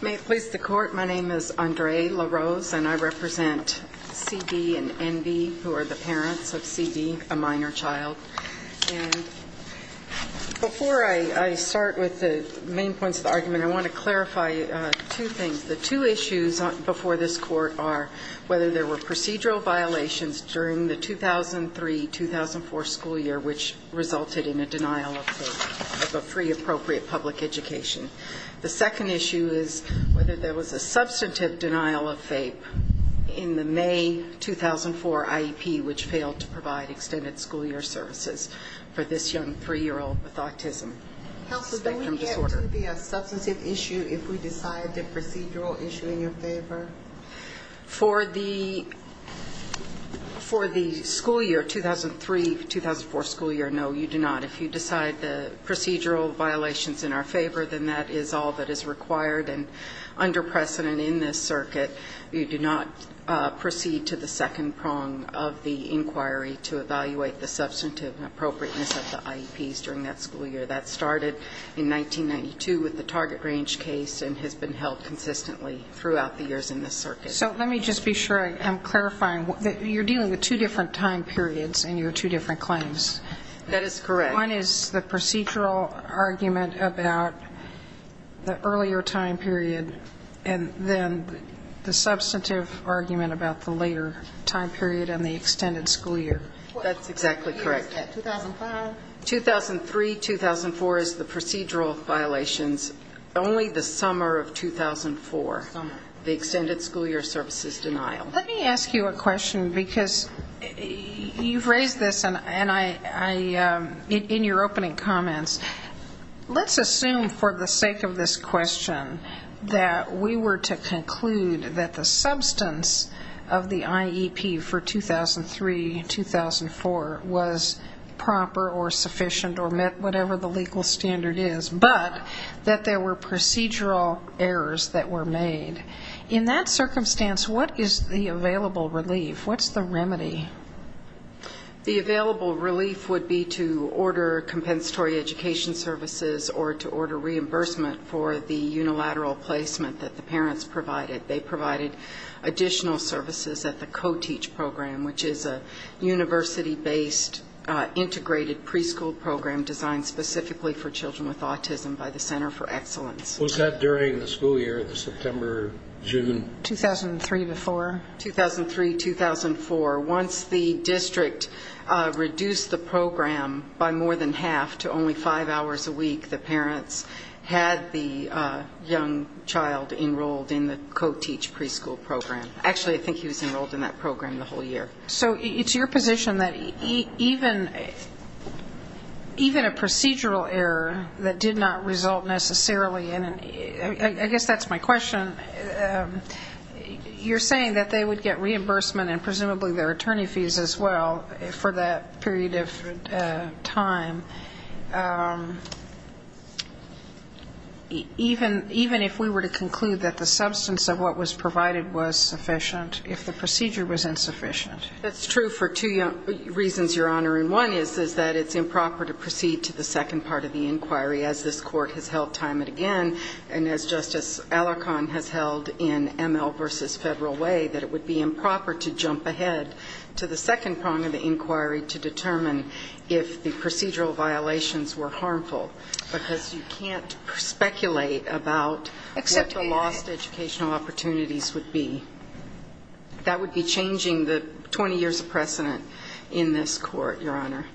May it please the Court, my name is Andre LaRose and I represent C.D. and N.B. who are the parents of C.D., a minor child. And before I start with the main points of the argument, I want to clarify two things. The two issues before this Court are whether there were procedural violations during the 2003-2004 school year which resulted in a denial of a free appropriate public education. The second issue is whether there was a substantive denial of FAPE in the May 2004 IEP which failed to provide extended school year services for this young 3-year-old with autism spectrum disorder. Counsel, can we get to the substantive issue if we decide the procedural issue in your favor? For the school year, 2003-2004 school year, no you do not. If you decide the procedural violations in our favor, then that is all that is required and under precedent in this circuit. You do not proceed to the second prong of the inquiry to evaluate the substantive appropriateness of the IEPs during that school year. That started in 1992 with the Target Range case and has been held consistently throughout the years in this circuit. So let me just be sure I'm clarifying. You're dealing with two different time periods in your two different claims. That is correct. One is the procedural argument about the earlier time period and then the substantive argument about the later time period and the extended school year. That's exactly correct. 2003-2004 is the procedural violations, only the summer of 2004, the extended school year services denial. Let me ask you a question because you've raised this in your opening comments. Let's assume for the sake of this question that we were to conclude that the substance of the IEP for 2003-2004 was proper or sufficient or met whatever the legal standard is, but that there were procedural errors that were made. In that circumstance, what is the available relief? What's the remedy? The available relief would be to order compensatory education services or to order reimbursement for the unilateral placement that the parents provided. They provided additional services at the COTEACH program, which is a university-based integrated preschool program designed specifically for children with autism by the Center for Excellence. Was that during the school year, the September, June? 2003-2004. 2003-2004. Once the district reduced the program by more than half to only five hours a week, the parents had the young child enrolled in the COTEACH preschool program. Actually, I think he was enrolled in that program the whole year. So did not result necessarily in an, I guess that's my question. You're saying that they would get reimbursement and presumably their attorney fees as well for that period of time. Even if we were to conclude that the substance of what was provided was sufficient, if the procedure was insufficient. That's true for two reasons, Your Honor. And one is that it's as this court has held time and again, and as Justice Alarcon has held in ML versus federal way, that it would be improper to jump ahead to the second prong of the inquiry to determine if the procedural violations were harmful. Because you can't speculate about what the lost educational opportunities would be. That would be changing the 20 years of precedent in this court, Your Honor.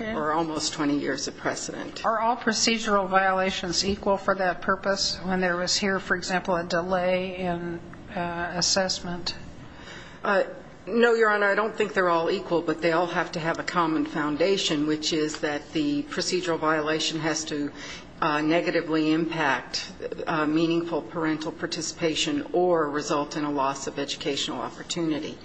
Or almost 20 years of precedent. Are all procedural violations equal for that purpose when there was here, for example, a delay in assessment? No, Your Honor. I don't think they're all equal, but they all have to have a common foundation, which is that the procedural violation has to negatively impact meaningful parental participation or result in a loss of educational opportunity.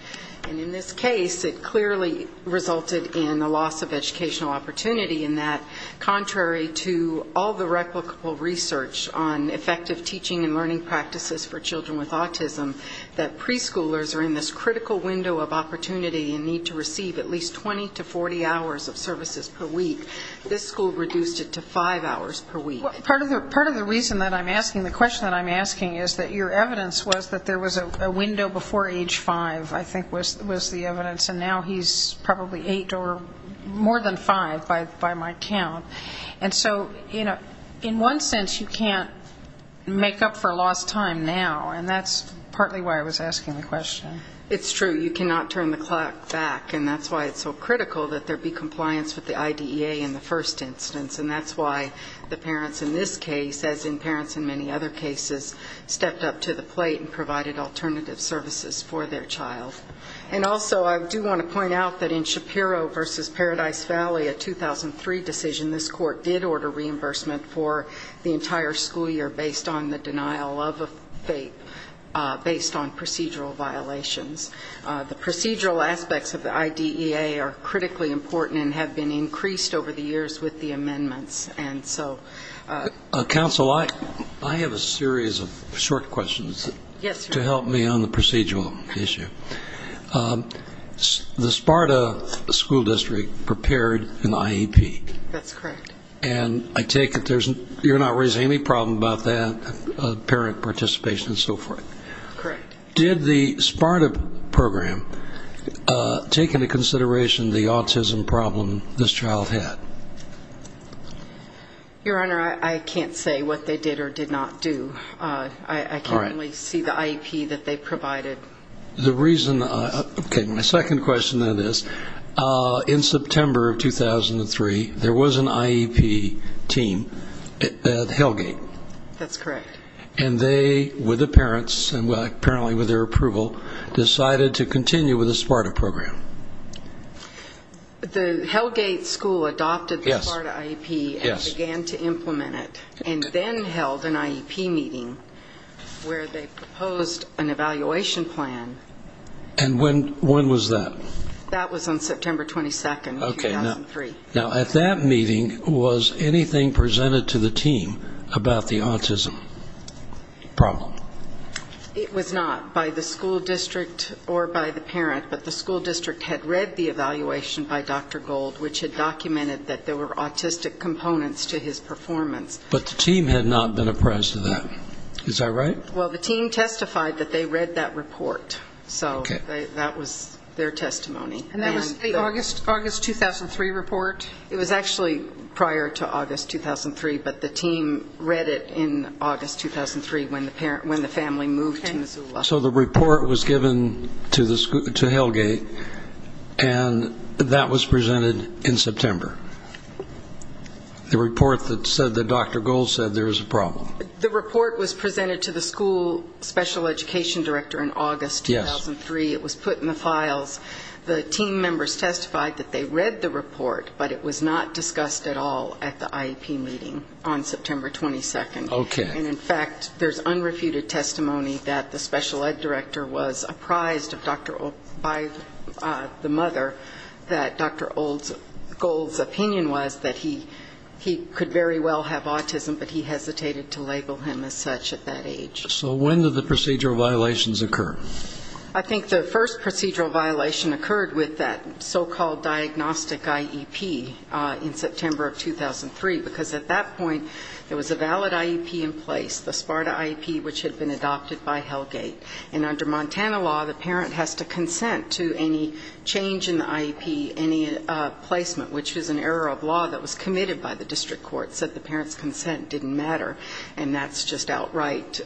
And in this case, it clearly resulted in a loss of educational opportunity in that, contrary to all the replicable research on effective teaching and learning practices for children with autism, that preschoolers are in this critical window of opportunity and need to receive at least 20 to 40 hours of services per week. This school reduced it to five hours per week. Part of the reason that I'm asking, the question that I'm asking is that your evidence was that there was a window before age five, I think was the evidence. And now he's probably eight or more than five by my count. And so, you know, in one sense, you can't make up for lost time now. And that's partly why I was asking the question. It's true. You cannot turn the clock back. And that's why it's so critical that there are parents in this case, as in parents in many other cases, stepped up to the plate and provided alternative services for their child. And also, I do want to point out that in Shapiro versus Paradise Valley, a 2003 decision, this court did order reimbursement for the entire school year based on the denial of a fate based on procedural violations. The procedural aspects of the IDEA are critically important and have been increased over the amendments. And so, counsel, I have a series of short questions to help me on the procedural issue. The Sparta school district prepared an IEP. That's correct. And I take it you're not raising any problem about that parent participation and so forth. Correct. Did the Sparta program take into consideration the autism problem this child had? Your Honor, I can't say what they did or did not do. I can only see the IEP that they provided. The reason, okay, my second question then is, in September of 2003, there was an IEP team at Hellgate. That's correct. And they, with the parents and apparently with their approval, decided to continue with the Sparta program. The Hellgate school adopted the Sparta IEP and began to implement it and then held an IEP meeting where they proposed an evaluation plan. And when was that? That was on September 22nd of 2003. Okay. Now, at that meeting, was anything presented to the team about the autism problem? It was not by the school district or by the parent, but the school district had read the evaluation by Dr. Gold, which had documented that there were autistic components to his performance. But the team had not been apprised of that. Is that right? Well, the team testified that they read that report. So that was their testimony. And that was the August 2003 report? It was actually prior to August 2003, but the team read it in August 2003 when the family moved to Missoula. So the report was given to Hellgate and that was presented in September? The report that said that Dr. Gold said there was a problem? The report was presented to the school special education director in August 2003. It was put in the files. The team members testified that they read the report, but it was not by the parent. In fact, there's unrefuted testimony that the special ed director was apprised by the mother that Dr. Gold's opinion was that he could very well have autism, but he hesitated to label him as such at that age. So when did the procedural violations occur? I think the first procedural violation occurred with that so-called diagnostic IEP in September of 2003, because at that point there was a valid IEP in place, the SPARTA IEP, which had been adopted by Hellgate. And under Montana law, the parent has to consent to any change in the IEP, any placement, which was an error of law that was committed by the district court, said the parent's consent didn't matter, and that's just outright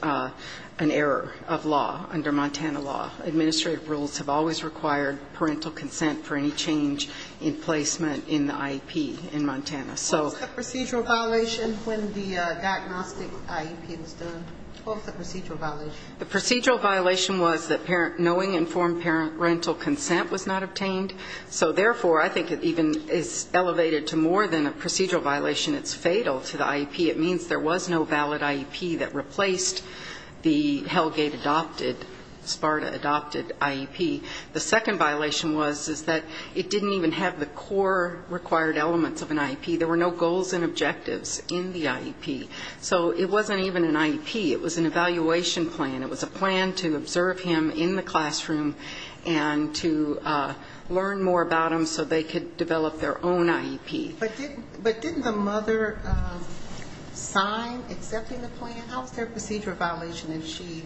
an error of law under Montana law. Administrative rules have always required parental consent for any change in placement in the IEP in Montana. So what's the procedural violation when the diagnostic IEP is done? What was the procedural violation? The procedural violation was that knowing informed parental consent was not obtained. So therefore, I think it even is elevated to more than a procedural violation. It's fatal to the IEP. It means there was no valid IEP that replaced the Hellgate-adopted, SPARTA-adopted IEP. The second violation was that it didn't even have the core required elements of an IEP. There were no goals and objectives in the IEP. So it wasn't even an IEP. It was an evaluation plan. It was a plan to observe him in the classroom and to learn more about him so they could develop their own IEP. But didn't the mother sign accepting the plan? How is there a procedural violation if she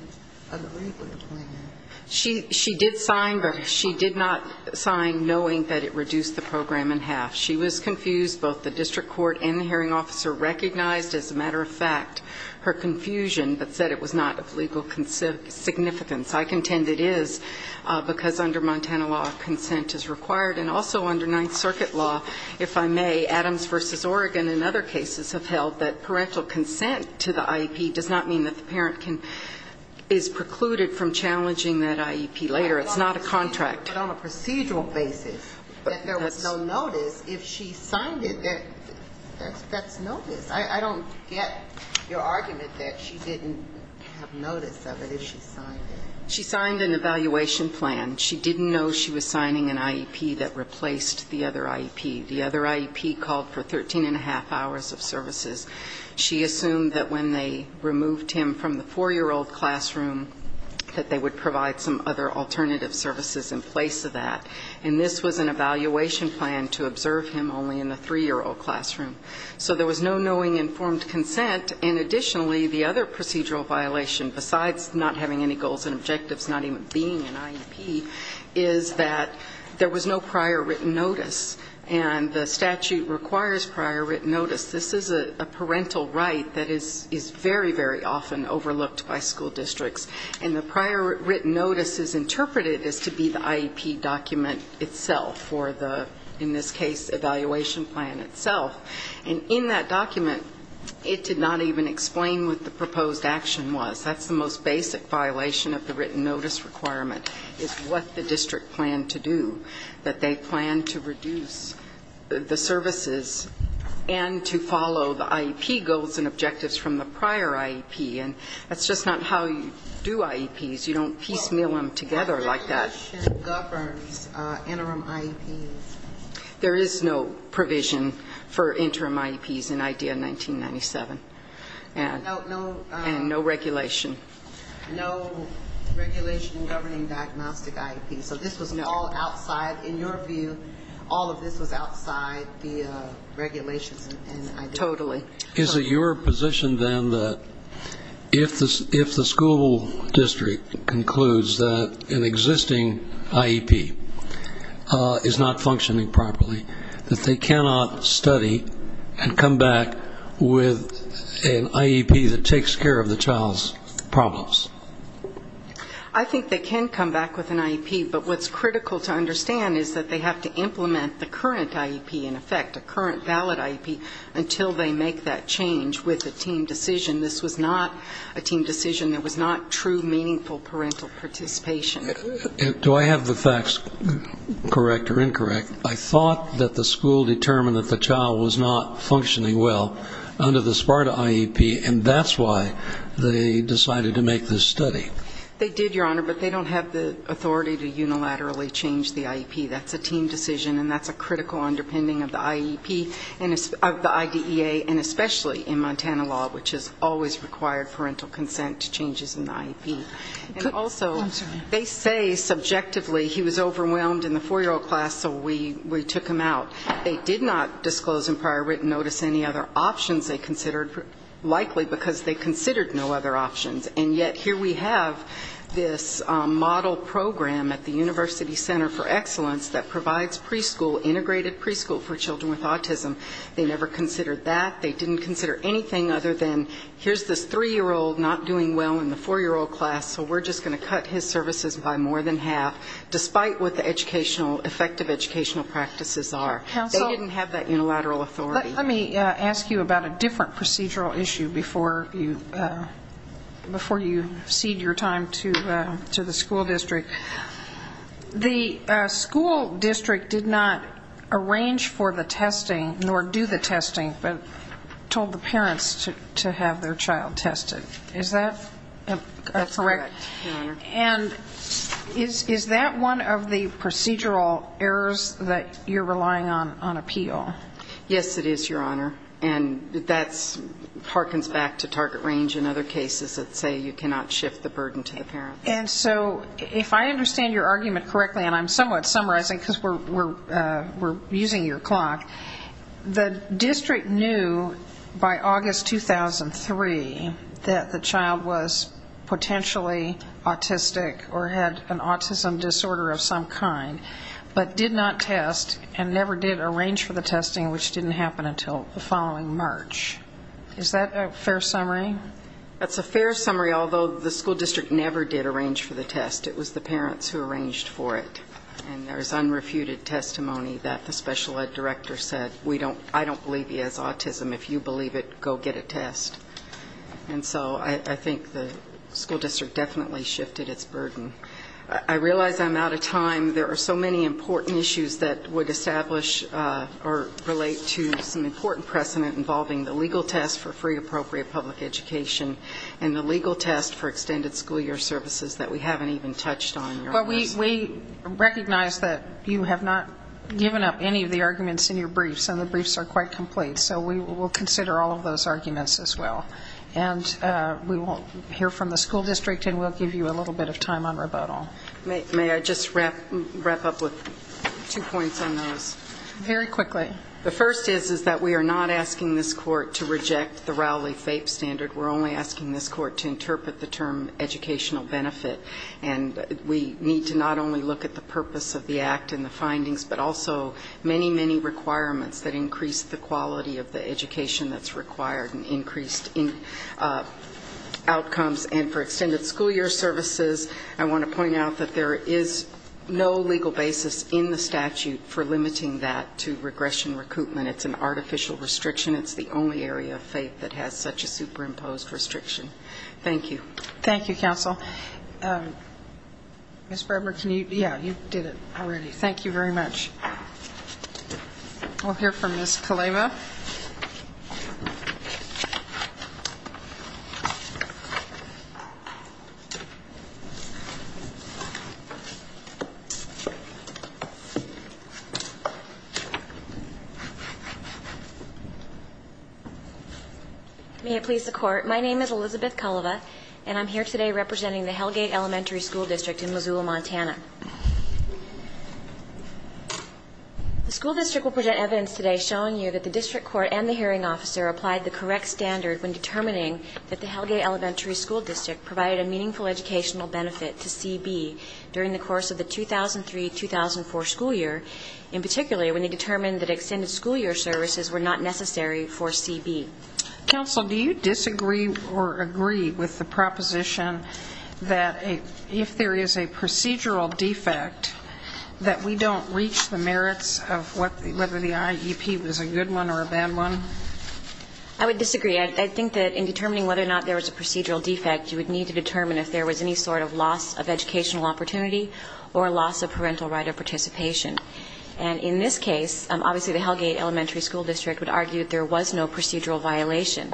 did sign but she did not sign knowing that it reduced the program in half? She was confused. Both the district court and the hearing officer recognized, as a matter of fact, her confusion but said it was not of legal significance. I contend it is because under Montana law consent is required and also under Ninth Circuit law, if I may, Adams v. Oregon and other cases have held that parental consent to the IEP does not mean that the parent is precluded from challenging that IEP later. It's not a contract. But on a procedural basis, that there was no notice, if she signed it, that's notice. I don't get your argument that she didn't have notice of it if she signed it. She signed an evaluation plan. She didn't know she was signing an IEP that replaced the other IEP. The other IEP called for 13 1⁄2 hours of services. She assumed that when they removed him from the 4-year-old classroom that they would provide some other alternative services in place of that. And this was an evaluation plan to observe him only in the 3-year-old classroom. So there was no knowing informed consent. And additionally, the other procedural violation, besides not having any goals and objectives, not even being an IEP, is that there was no prior written notice. And the statute requires prior written notice. This is a parental right that is very, very often overlooked by school districts. And the prior written notice is interpreted as to be the IEP document itself or the, in this case, evaluation plan itself. And in that document, it did not even explain what the proposed action was. That's the most basic violation of the written notice requirement, is what the district planned to do, that they planned to reduce the services and to follow the IEP goals and objectives from the prior IEP. And that's just not how you do IEPs. You don't piecemeal them together like that. Female Speaker 1 Well, what regulation governs interim IEPs? Dr. Jane Wood There is no provision for interim IEPs in IDEA 1997. And no regulation. Female Speaker 1 No regulation governing diagnostic IEPs. So this was all outside, in your view, all of this was outside the regulations in IDEA? Dr. Jane Wood Totally. Dr. Robert R. Reilly Is it your position, then, that if the school district concludes that an existing IEP is not functioning properly, that they cannot study and come back with an IEP that takes care of the child's problems? Dr. Jane Wood I think they can come back with an IEP. But what's critical to understand is that they have to implement the current IEP, in effect, a current valid IEP, until they make that change with a team decision. This was not a team decision. It was not true, meaningful parental participation. Dr. Robert R. Reilly Do I have the facts correct or incorrect? I thought that the school determined that the child was not functioning well under the SPARTA IEP, and that's why they decided to make this study. Dr. Jane Wood They did, Your Honor, but they don't have the authority to unilaterally change the IEP. That's a team decision, and that's a critical underpinning of the IEP, of the IDEA, and especially in Montana law, which has always required parental consent to changes in the IEP. And also, they say subjectively, he was overwhelmed in the four-year-old class, so we took him out. They did not disclose in prior written notice any other options they considered, likely because they considered no other options. And yet, here we have this model program at the University Center for Excellence that provides preschool, integrated preschool for children with autism. They never considered that. They didn't consider anything other than, here's this three-year-old not doing well in the four-year-old class, so we're just going to cut his services by more than half, despite what the educational, effective educational practices are. Before you cede your time to the school district, the school district did not arrange for the testing, nor do the testing, but told the parents to have their child tested. Is that Dr. Jane Wood That's correct, Your Honor. Dr. Jane Wood And is that one of the procedural errors that you're relying on, on appeal? Dr. Jane Wood Yes, it is, Your Honor. And that harkens back to target range in other cases that say you cannot shift the burden to the parent. Dr. Jane Wood And so, if I understand your argument correctly, and I'm somewhat summarizing because we're using your clock, the district knew by August 2003 that the child was potentially autistic or had an autism disorder of some kind, but did not test and never did arrange for the testing, which didn't happen until the following March. Is that a fair summary? Dr. Jane Wood That's a fair summary, although the school district never did arrange for the test. It was the parents who arranged for it. And there is unrefuted testimony that the special ed director said, I don't believe he has autism. If you believe it, go get a test. And so I think the school district definitely shifted its burden. I realize I'm out of time. There are so many the legal test for free appropriate public education and the legal test for extended school year services that we haven't even touched on, Your Honor. Dr. Jane Wood But we recognize that you have not given up any of the arguments in your briefs, and the briefs are quite complete. So we will consider all of those arguments as well. And we will hear from the school district, and we'll give you a little bit of time on rebuttal. Dr. Jane Wood May I just wrap up with two points on those? Dr. Jane Wood Very quickly. Dr. Jane Wood The first is that we are not asking this court to reject the Rowley-Fape standard. We're only asking this court to interpret the term educational benefit. And we need to not only look at the purpose of the act and the findings, but also many, many requirements that increase the quality of the education that's required and increased outcomes. And for extended school year services, I want to point out that there is no legal basis in the statute for limiting that to regression recoupment. It's an artificial restriction. It's the only area of FAPE that has such a superimposed restriction. Thank you. Dr. Jane Wood Thank you, counsel. Ms. Bradmer, can you yeah, you did it already. Thank you very much. We'll hear from Ms. Kaleva. Ms. Kaleva May it please the court, my name is Elizabeth Kaleva and I'm here today representing the Hellgate Elementary School District in Missoula, Montana. The school district will present evidence today showing you that the district court and the hearing officer applied the correct standard when determining that the during the course of the 2003-2004 school year. In particular, when they determined that extended school year services were not necessary for CB. Dr. Jane Wood Counsel, do you disagree or agree with the proposition that if there is a procedural defect, that we don't reach the merits of what the whether the IEP was a good one or a bad one? Ms. Kaleva I would disagree. I think that in determining whether or not there was a procedural defect, you would need to determine if there was any sort of loss of educational opportunity or loss of parental right of participation. And in this case, obviously the Hellgate Elementary School District would argue that there was no procedural violation.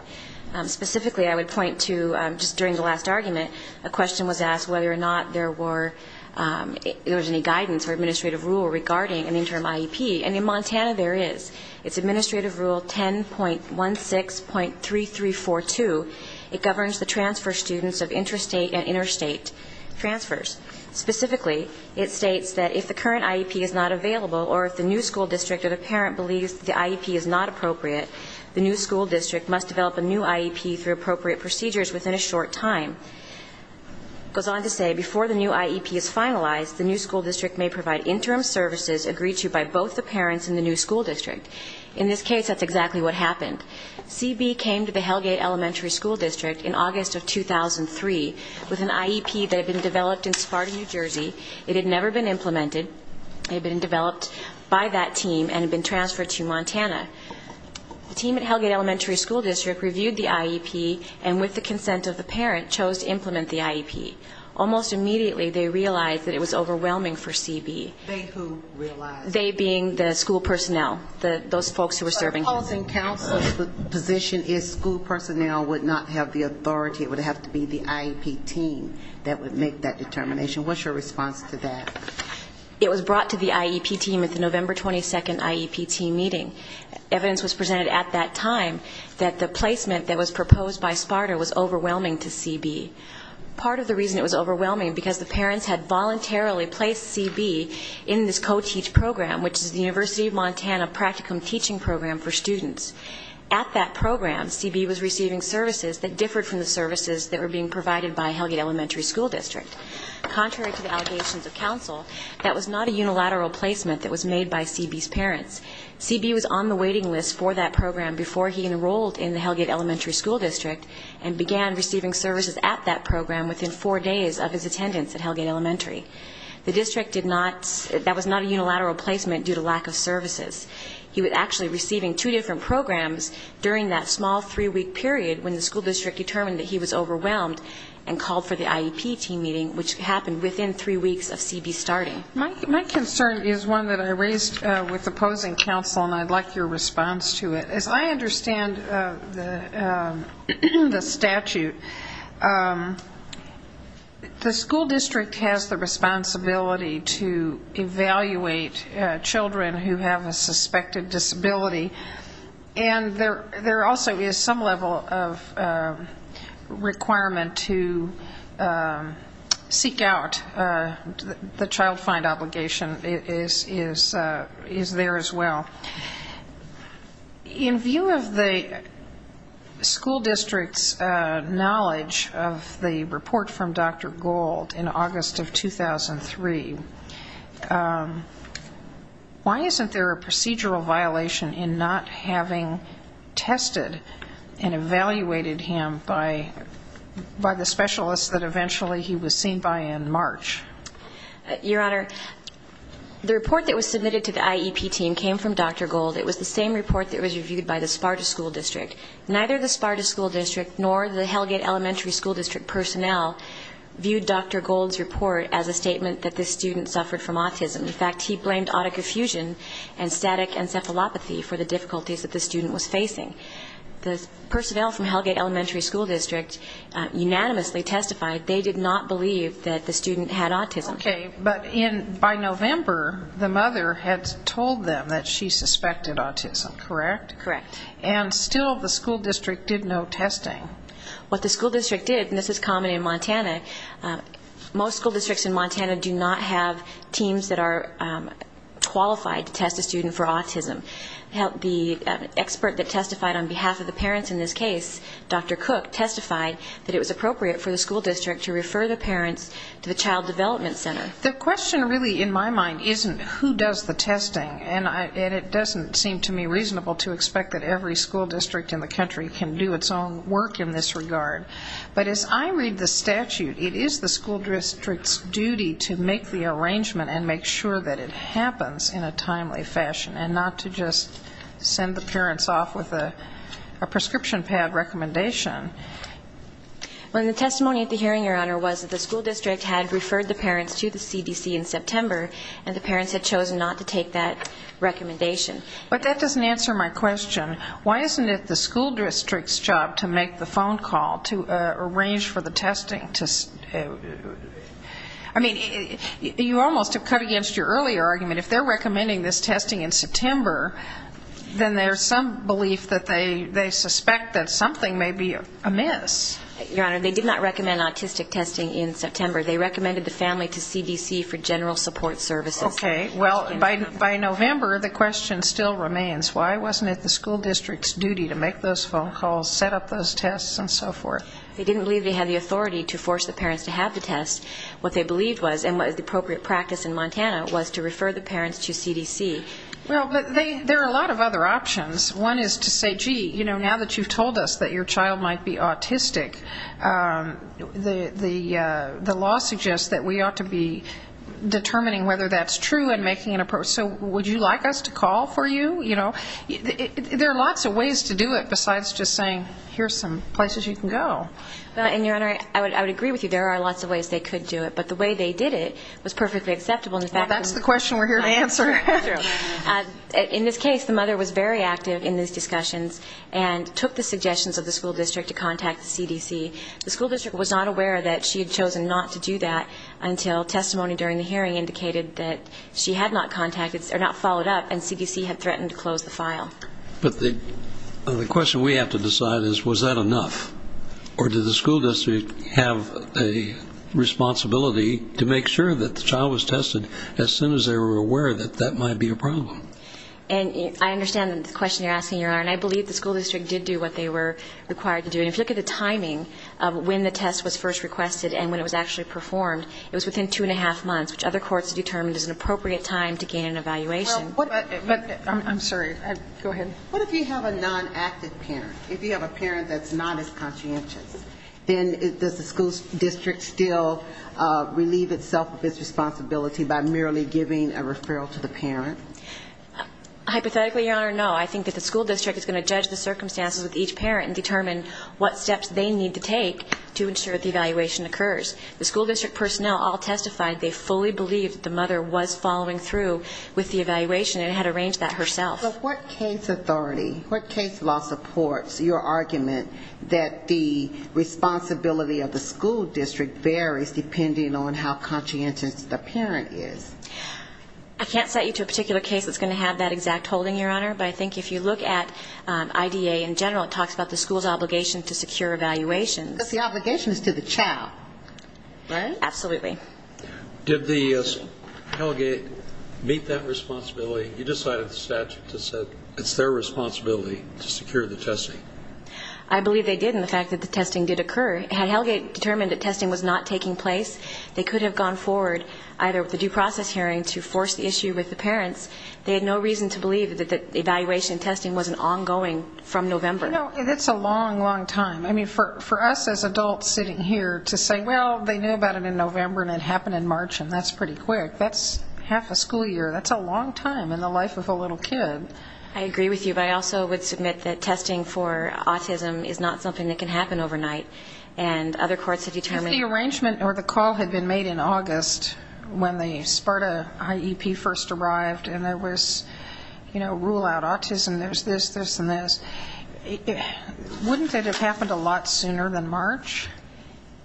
Specifically, I would point to just during the last argument, a question was asked whether or not there were, if there was any guidance or administrative rule regarding an interim IEP. And in Montana there is. It's Administrative Rule 10.16.3342. It governs the transfer students of interstate and interstate transfers. Specifically, it states that if the current IEP is not available or if the new school district or the parent believes the IEP is not appropriate, the new school district must develop a new IEP through appropriate procedures within a short time. It goes on to say before the new IEP is finalized, the new school district may provide interim services agreed to by both the parents and the new school district. In this case, that's exactly what happened. CB came to the Hellgate Elementary School District in August of 2003 with an IEP that had been developed in Sparta, New Jersey. It had never been implemented. It had been developed by that team and had been transferred to Montana. The team at Hellgate Elementary School District reviewed the IEP and with the consent of the parent, chose to implement the IEP. Almost immediately, they realized that it was overwhelming for CB, they being the school personnel, those folks who were serving here. So the opposing counsel's position is school personnel would not have the authority, it would have to be the IEP team that would make that determination. What's your response to that? It was brought to the IEP team at the November 22nd IEP team meeting. Evidence was presented at that time that the placement that was proposed by Sparta was overwhelming to CB. Part of the reason it was overwhelming, because the parents had voluntarily placed CB in this Montana practicum teaching program for students. At that program, CB was receiving services that differed from the services that were being provided by Hellgate Elementary School District. Contrary to the allegations of counsel, that was not a unilateral placement that was made by CB's parents. CB was on the waiting list for that program before he enrolled in the Hellgate Elementary School District and began receiving services at that program within four days of his attendance at Hellgate Elementary. The district did not, that was not a unilateral placement due to lack of services. He was actually receiving two different programs during that small three-week period when the school district determined that he was overwhelmed and called for the IEP team meeting, which happened within three weeks of CB starting. My concern is one that I raised with opposing counsel, and I'd like your response to it. As I understand the statute, the school district has the responsibility to evaluate CB's children who have a suspected disability, and there also is some level of requirement to seek out the child find obligation is there as well. In view of the school district's knowledge of the report from Dr. Gould in August of 2003, the school district's knowledge of the report from Dr. Gould in August of 2003, why isn't there a procedural violation in not having tested and evaluated him by the specialists that eventually he was seen by in March? Your Honor, the report that was submitted to the IEP team came from Dr. Gould. It was the same report that was reviewed by the Sparta School District. Neither the Sparta School District nor the Hellgate Elementary School District personnel viewed Dr. Gould's report as a statement that this student suffered from autism. In fact, he blamed autoconfusion and static encephalopathy for the difficulties that this student was facing. The personnel from Hellgate Elementary School District unanimously testified they did not believe that the student had autism. Okay, but by November, the mother had told them that she suspected autism, correct? Correct. And still the school district did no testing. What the school district did, and this is common in Montana, most school districts in Montana do not have teams that are qualified to test a student for autism. The expert that testified on behalf of the parents in this case, Dr. Cook, testified that it was appropriate for the school district to refer the parents to the Child Development Center. The question really in my mind isn't who does the testing, and it doesn't seem to me reasonable to expect that every school district in the country can do its own work in this regard. But as I read the statute, it is the school district's duty to make the arrangement and make sure that it happens in a timely fashion, and not to just send the parents off with a prescription pad recommendation. Well, the testimony at the hearing, Your Honor, was that the school district had referred the parents to the CDC in September, and the parents had chosen not to take that recommendation. But that doesn't answer my question. Why isn't it the school district's job to make the phone call to arrange for the testing? I mean, you almost have come against your earlier argument. If they're recommending this testing in September, then there's some belief that they suspect that something may be amiss. Your Honor, they did not recommend autistic testing in September. They recommended the family to CDC for general support services. Okay. Well, by November, the question still remains. Why wasn't it the school district's duty to make those phone calls, set up those tests, and so forth? They didn't believe they had the authority to force the parents to have the test. What they believed was, and what was the appropriate practice in Montana, was to refer the parents to CDC. Well, but there are a lot of other options. One is to say, gee, you know, now that you've told us that your child might be autistic, the law suggests that we ought to be determining whether that's true and making an approach. So would you like us to call for you? You know, there are lots of ways to do it besides just saying, here's some places you can go. Well, and Your Honor, I would agree with you. There are lots of ways they could do it. But the way they did it was perfectly acceptable. Well, that's the question we're here to answer. In this case, the mother was very active in these discussions and took the suggestions of the school district to contact the CDC. The school district was not aware that she had not followed up, and CDC had threatened to close the file. But the question we have to decide is, was that enough? Or did the school district have a responsibility to make sure that the child was tested as soon as they were aware that that might be a problem? And I understand the question you're asking, Your Honor. And I believe the school district did do what they were required to do. And if you look at the timing of when the test was first requested and when it was actually performed, it was within two and a half months, which other courts have determined is an appropriate time to gain an evaluation. Well, I'm sorry. Go ahead. What if you have a non-active parent? If you have a parent that's not as conscientious? Then does the school district still relieve itself of its responsibility by merely giving a referral to the parent? Hypothetically, Your Honor, no. I think that the school district is going to judge the circumstances with each parent and determine what steps they need to take to ensure that an evaluation occurs. The school district personnel all testified they fully believed that the mother was following through with the evaluation and had arranged that herself. But what case authority, what case law supports your argument that the responsibility of the school district varies depending on how conscientious the parent is? I can't cite you to a particular case that's going to have that exact holding, Your Honor. But I think if you look at IDA in general, it talks about the school's obligation to secure evaluations. Because the obligation is to the child, right? Absolutely. Did the Hellgate meet that responsibility? You decided the statute said it's their responsibility to secure the testing. I believe they did in the fact that the testing did occur. Had Hellgate determined that testing was not taking place, they could have gone forward either with a due process hearing to force the issue with the parents. They had no reason to believe that the evaluation testing wasn't ongoing from November. It's a long, long time. For us as adults sitting here to say, well, they knew about it in November and it happened in March and that's pretty quick. That's half a school year. That's a long time in the life of a little kid. I agree with you. But I also would submit that testing for autism is not something that can happen overnight. And other courts have determined If the arrangement or the call had been made in August when the SPARTA IEP first Wouldn't it have happened a lot sooner than March?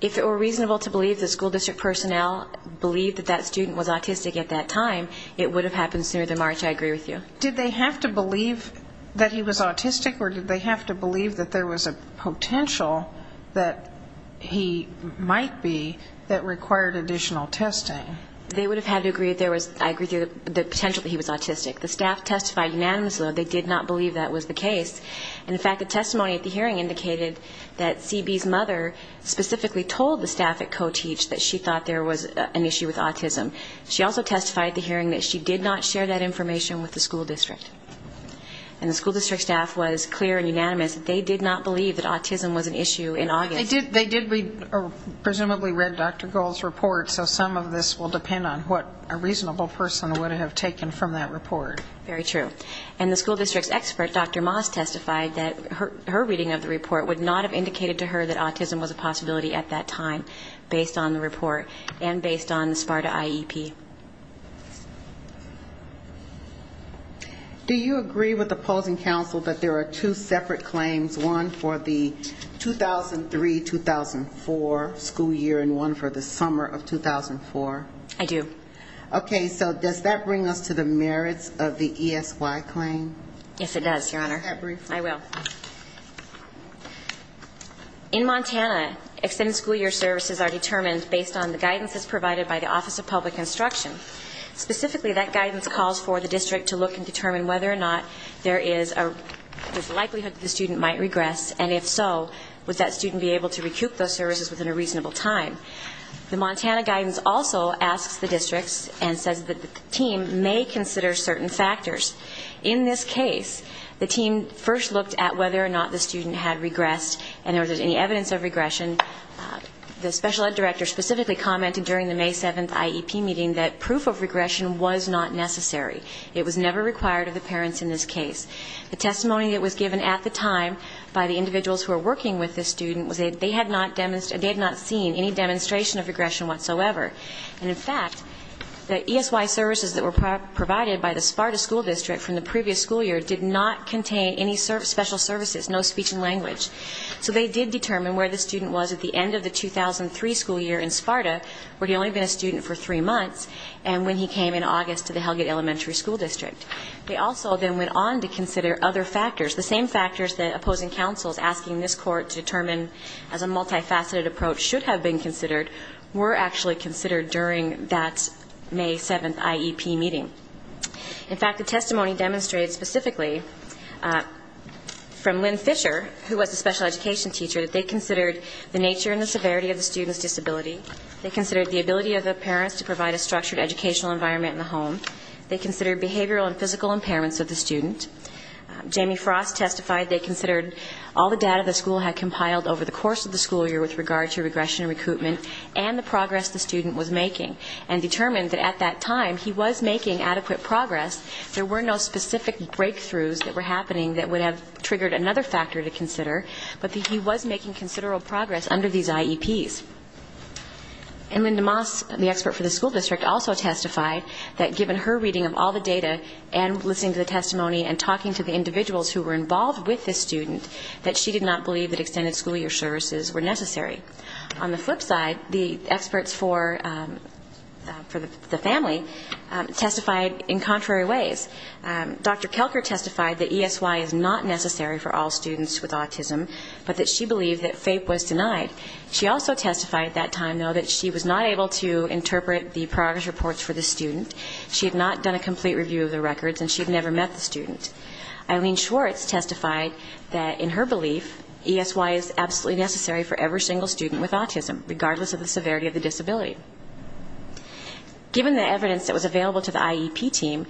If it were reasonable to believe the school district personnel believe that that student was autistic at that time, it would have happened sooner than March. I agree with you. Did they have to believe that he was autistic or did they have to believe that there was a potential that he might be that required additional testing? They would have had to agree that there was the potential that he was autistic. The staff testified unanimously that they did not believe that was the case. In fact, a testimony at the hearing indicated that CB's mother specifically told the staff at CoTeach that she thought there was an issue with autism. She also testified at the hearing that she did not share that information with the school district. And the school district staff was clear and unanimous that they did not believe that autism was an issue in August. They did presumably read Dr. Gohl's report, so some of this will depend on what a reasonable person would have taken from that report. Very true. And the school district's expert, Dr. Moss, testified that her reading of the report would not have indicated to her that autism was a possibility at that time, based on the report and based on the SPARTA IEP. Do you agree with opposing counsel that there are two separate claims, one for the 2003-2004 school year and one for the summer of 2004? I do. Okay, so does that bring us to the merits of the ESY claim? Yes, it does, Your Honor. Can I have that brief? I will. In Montana, extended school year services are determined based on the guidance that's provided by the Office of Public Instruction. Specifically, that guidance calls for the district to look and determine whether or not there is a likelihood that the student might regress, and if so, would that student be able to recoup those services within a reasonable time? The Montana guidance also asks the districts and says that the team may consider certain factors. In this case, the team first looked at whether or not the student had regressed and there was any evidence of regression. The special ed director specifically commented during the May 7th IEP meeting that proof of regression was not necessary. It was never required of the parents in this case. The testimony that was given at the time by the individuals who were seen, any demonstration of regression whatsoever. And in fact, the ESY services that were provided by the SPARTA school district from the previous school year did not contain any special services, no speech and language. So they did determine where the student was at the end of the 2003 school year in SPARTA, where he had only been a student for three months, and when he came in August to the Helgate Elementary School District. They also then went on to consider other factors, the same factors that opposing counsels asking this Court to determine as a multi-faceted approach should have been considered were actually considered during that May 7th IEP meeting. In fact, the testimony demonstrated specifically from Lynn Fisher, who was the special education teacher, that they considered the nature and the severity of the student's disability. They considered the ability of the parents to provide a structured educational environment in the home. They considered behavioral and physical impairments of the student. Jamie Frost testified they considered all the data the school had during that school year with regard to regression and recruitment and the progress the student was making, and determined that at that time he was making adequate progress. There were no specific breakthroughs that were happening that would have triggered another factor to consider, but that he was making considerable progress under these IEPs. And Linda Moss, the expert for the school district, also testified that given her reading of all the data and listening to the testimony and talking to the individuals who were involved with this student, that she did not believe that extended school year services were necessary. On the flip side, the experts for the family testified in contrary ways. Dr. Kelker testified that ESY is not necessary for all students with autism, but that she believed that FAPE was denied. She also testified at that time, though, that she was not able to interpret the progress reports for the student, she had not done a complete review of the records, and she had never met the student. Eileen Schwartz testified that in her belief, ESY is absolutely necessary for every single student with autism, regardless of the severity of the disability. Given the evidence that was available to the IEP team,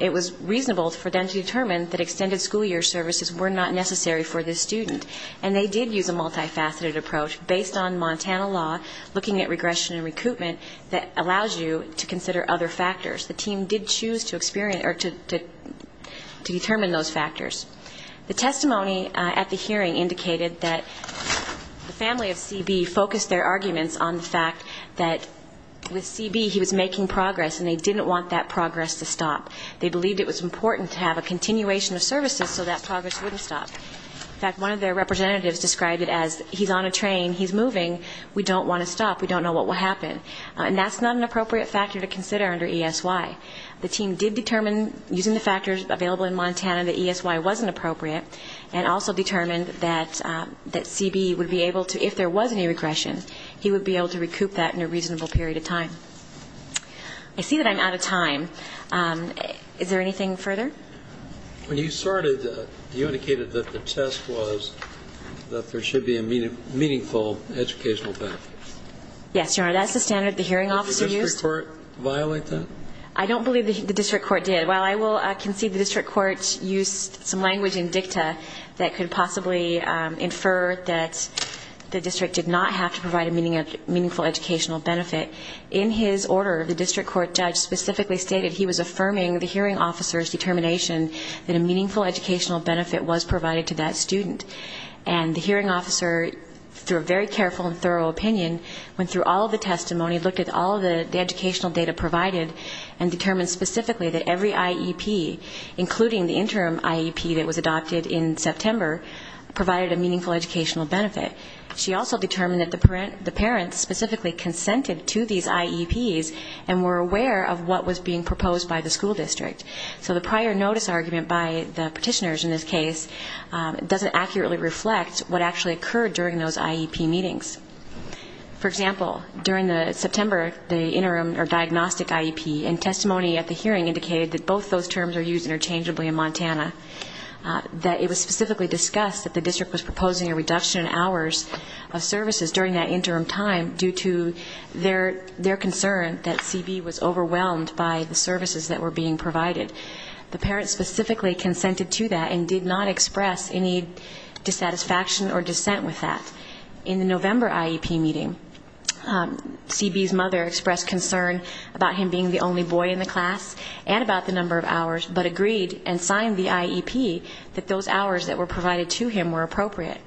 it was reasonable for them to determine that extended school year services were not necessary for this student. And they did use a multifaceted approach based on Montana law, looking at regression and recruitment, that allows you to consider other factors. The team did choose to determine those factors. The testimony at the hearing indicated that the family of CB focused their arguments on the fact that with CB, he was making progress, and they didn't want that progress to stop. They believed it was important to have a continuation of services so that progress wouldn't stop. In fact, one of their representatives described it as, he's on a train, he's moving, we don't want to stop, we don't know what will happen. And that's not an appropriate factor to consider under ESY. The team did determine, using the factors available in Montana, that ESY wasn't appropriate, and also determined that CB would be able to, if there was any regression, he would be able to recoup that in a reasonable period of time. I see that I'm out of time. Is there anything further? When you started, you indicated that the test was that there should be a meaningful educational benefit. Yes, Your Honor, that's the standard the hearing officer used. Did the district court violate that? I don't believe the district court did. While I can see the district court used some language in dicta that could possibly infer that the district did not have to provide a meaningful educational benefit, in his order, the district court judge specifically stated he was affirming the hearing officer's determination that a meaningful educational benefit was provided to that student. And the hearing officer, through a very careful and thorough opinion, went through all the testimony, looked at all the educational data provided, and determined specifically that every IEP, including the interim IEP that was adopted in September, provided a meaningful educational benefit. She also determined that the parents specifically consented to these IEPs, and were aware of what was being proposed by the school district. So the prior notice argument by the petitioners in this case doesn't accurately reflect what actually occurred during those IEP meetings. For example, during the September, the interim or diagnostic IEP, and testimony at the hearing indicated that both those terms are used interchangeably in Montana, that it was specifically discussed that the district was proposing a reduction in hours of services during that interim time due to their concern that CB was overwhelmed by the services that were being provided. The parents specifically consented to that, and did not express any dissatisfaction or dissent with that. In the November IEP meeting, CB's mother expressed concern about him being the only boy in the class, and about the number of hours, but agreed and signed the IEP that those hours that were provided to him were appropriate.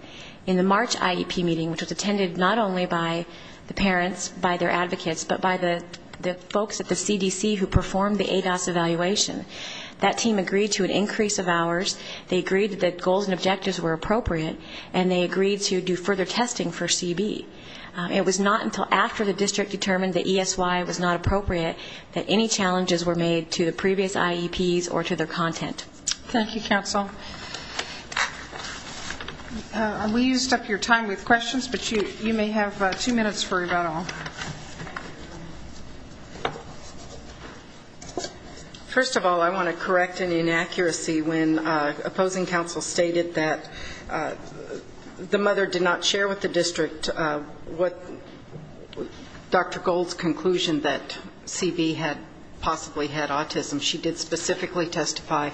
In the March IEP meeting, which was attended not only by the parents, by their advocates, but by the folks at the CDC who performed the ADOS evaluation, CB's mother expressed concern that team agreed to an increase of hours, they agreed that goals and objectives were appropriate, and they agreed to do further testing for CB. It was not until after the district determined that ESY was not appropriate that any challenges were made to the previous IEPs or to their content. Thank you, counsel. We used up your time with questions, but you may have two minutes for rebuttal. First of all, I want to correct an inaccuracy when opposing counsel stated that the mother did not share with the district what Dr. Gold's conclusion that CB had possibly had autism. She did specifically testify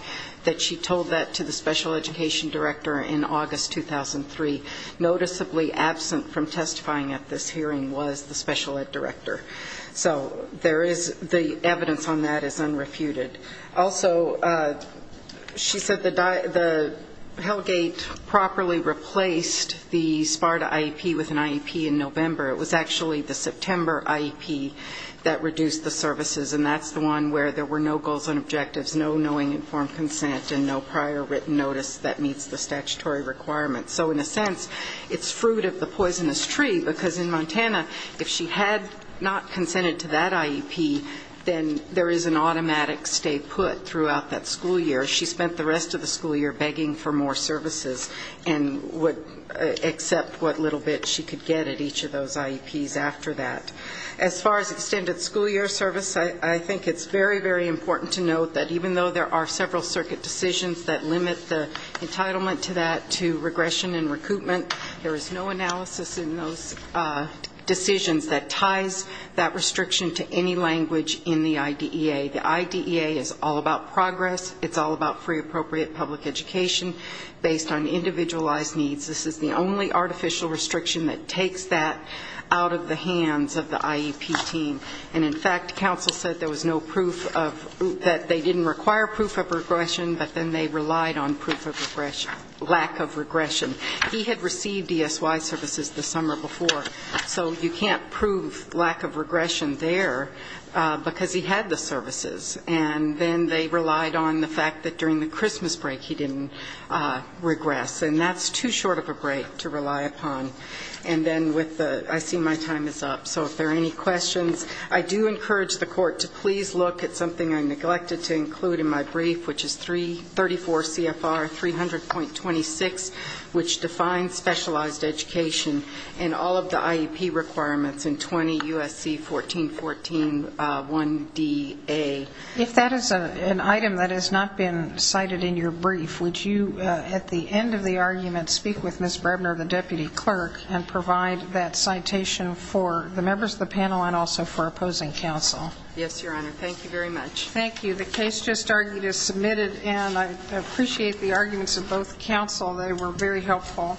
that she told that to the special education director in August 2003. Noticeably absent from testifying at this hearing was the conclusion that CB had possibly had autism. So the evidence on that is unrefuted. Also, she said the Hellgate properly replaced the SPARTA IEP with an IEP in November. It was actually the September IEP that reduced the services, and that's the one where there were no goals and objectives, no knowing informed consent, and no prior written notice that meets the statutory requirements. So in a sense, it's fruit of the poisonous tree, because in fact, if she had not consented to that IEP, then there is an automatic stay put throughout that school year. She spent the rest of the school year begging for more services and would accept what little bit she could get at each of those IEPs after that. As far as extended school year service, I think it's very, very important to note that even though there are several circuit decisions that limit the entitlement to that, to regression and recoupment, there is no analysis in those decisions that ties that restriction to any language in the IDEA. The IDEA is all about progress. It's all about free appropriate public education based on individualized needs. This is the only artificial restriction that takes that out of the hands of the IEP team. And in fact, counsel said there was no proof that they didn't require proof of regression, but then they relied on proof of regression. And you can't prove lack of regression there because he had the services. And then they relied on the fact that during the Christmas break he didn't regress. And that's too short of a break to rely upon. And then with the, I see my time is up, so if there are any questions, I do encourage the court to please look at something I neglected to include in my brief, which is 34 CFR 300.26, which defines specialized education and all of the IEP requirements in 20 U.S.C. 1414 1DA. If that is an item that has not been cited in your brief, would you at the end of the argument speak with Ms. Brebner, the deputy clerk, and provide that citation for the members of the panel and also for opposing counsel? Yes, Your Honor. Thank you very much. Thank you. The case just argued is submitted, and I appreciate the arguments of both counsel. They were very helpful.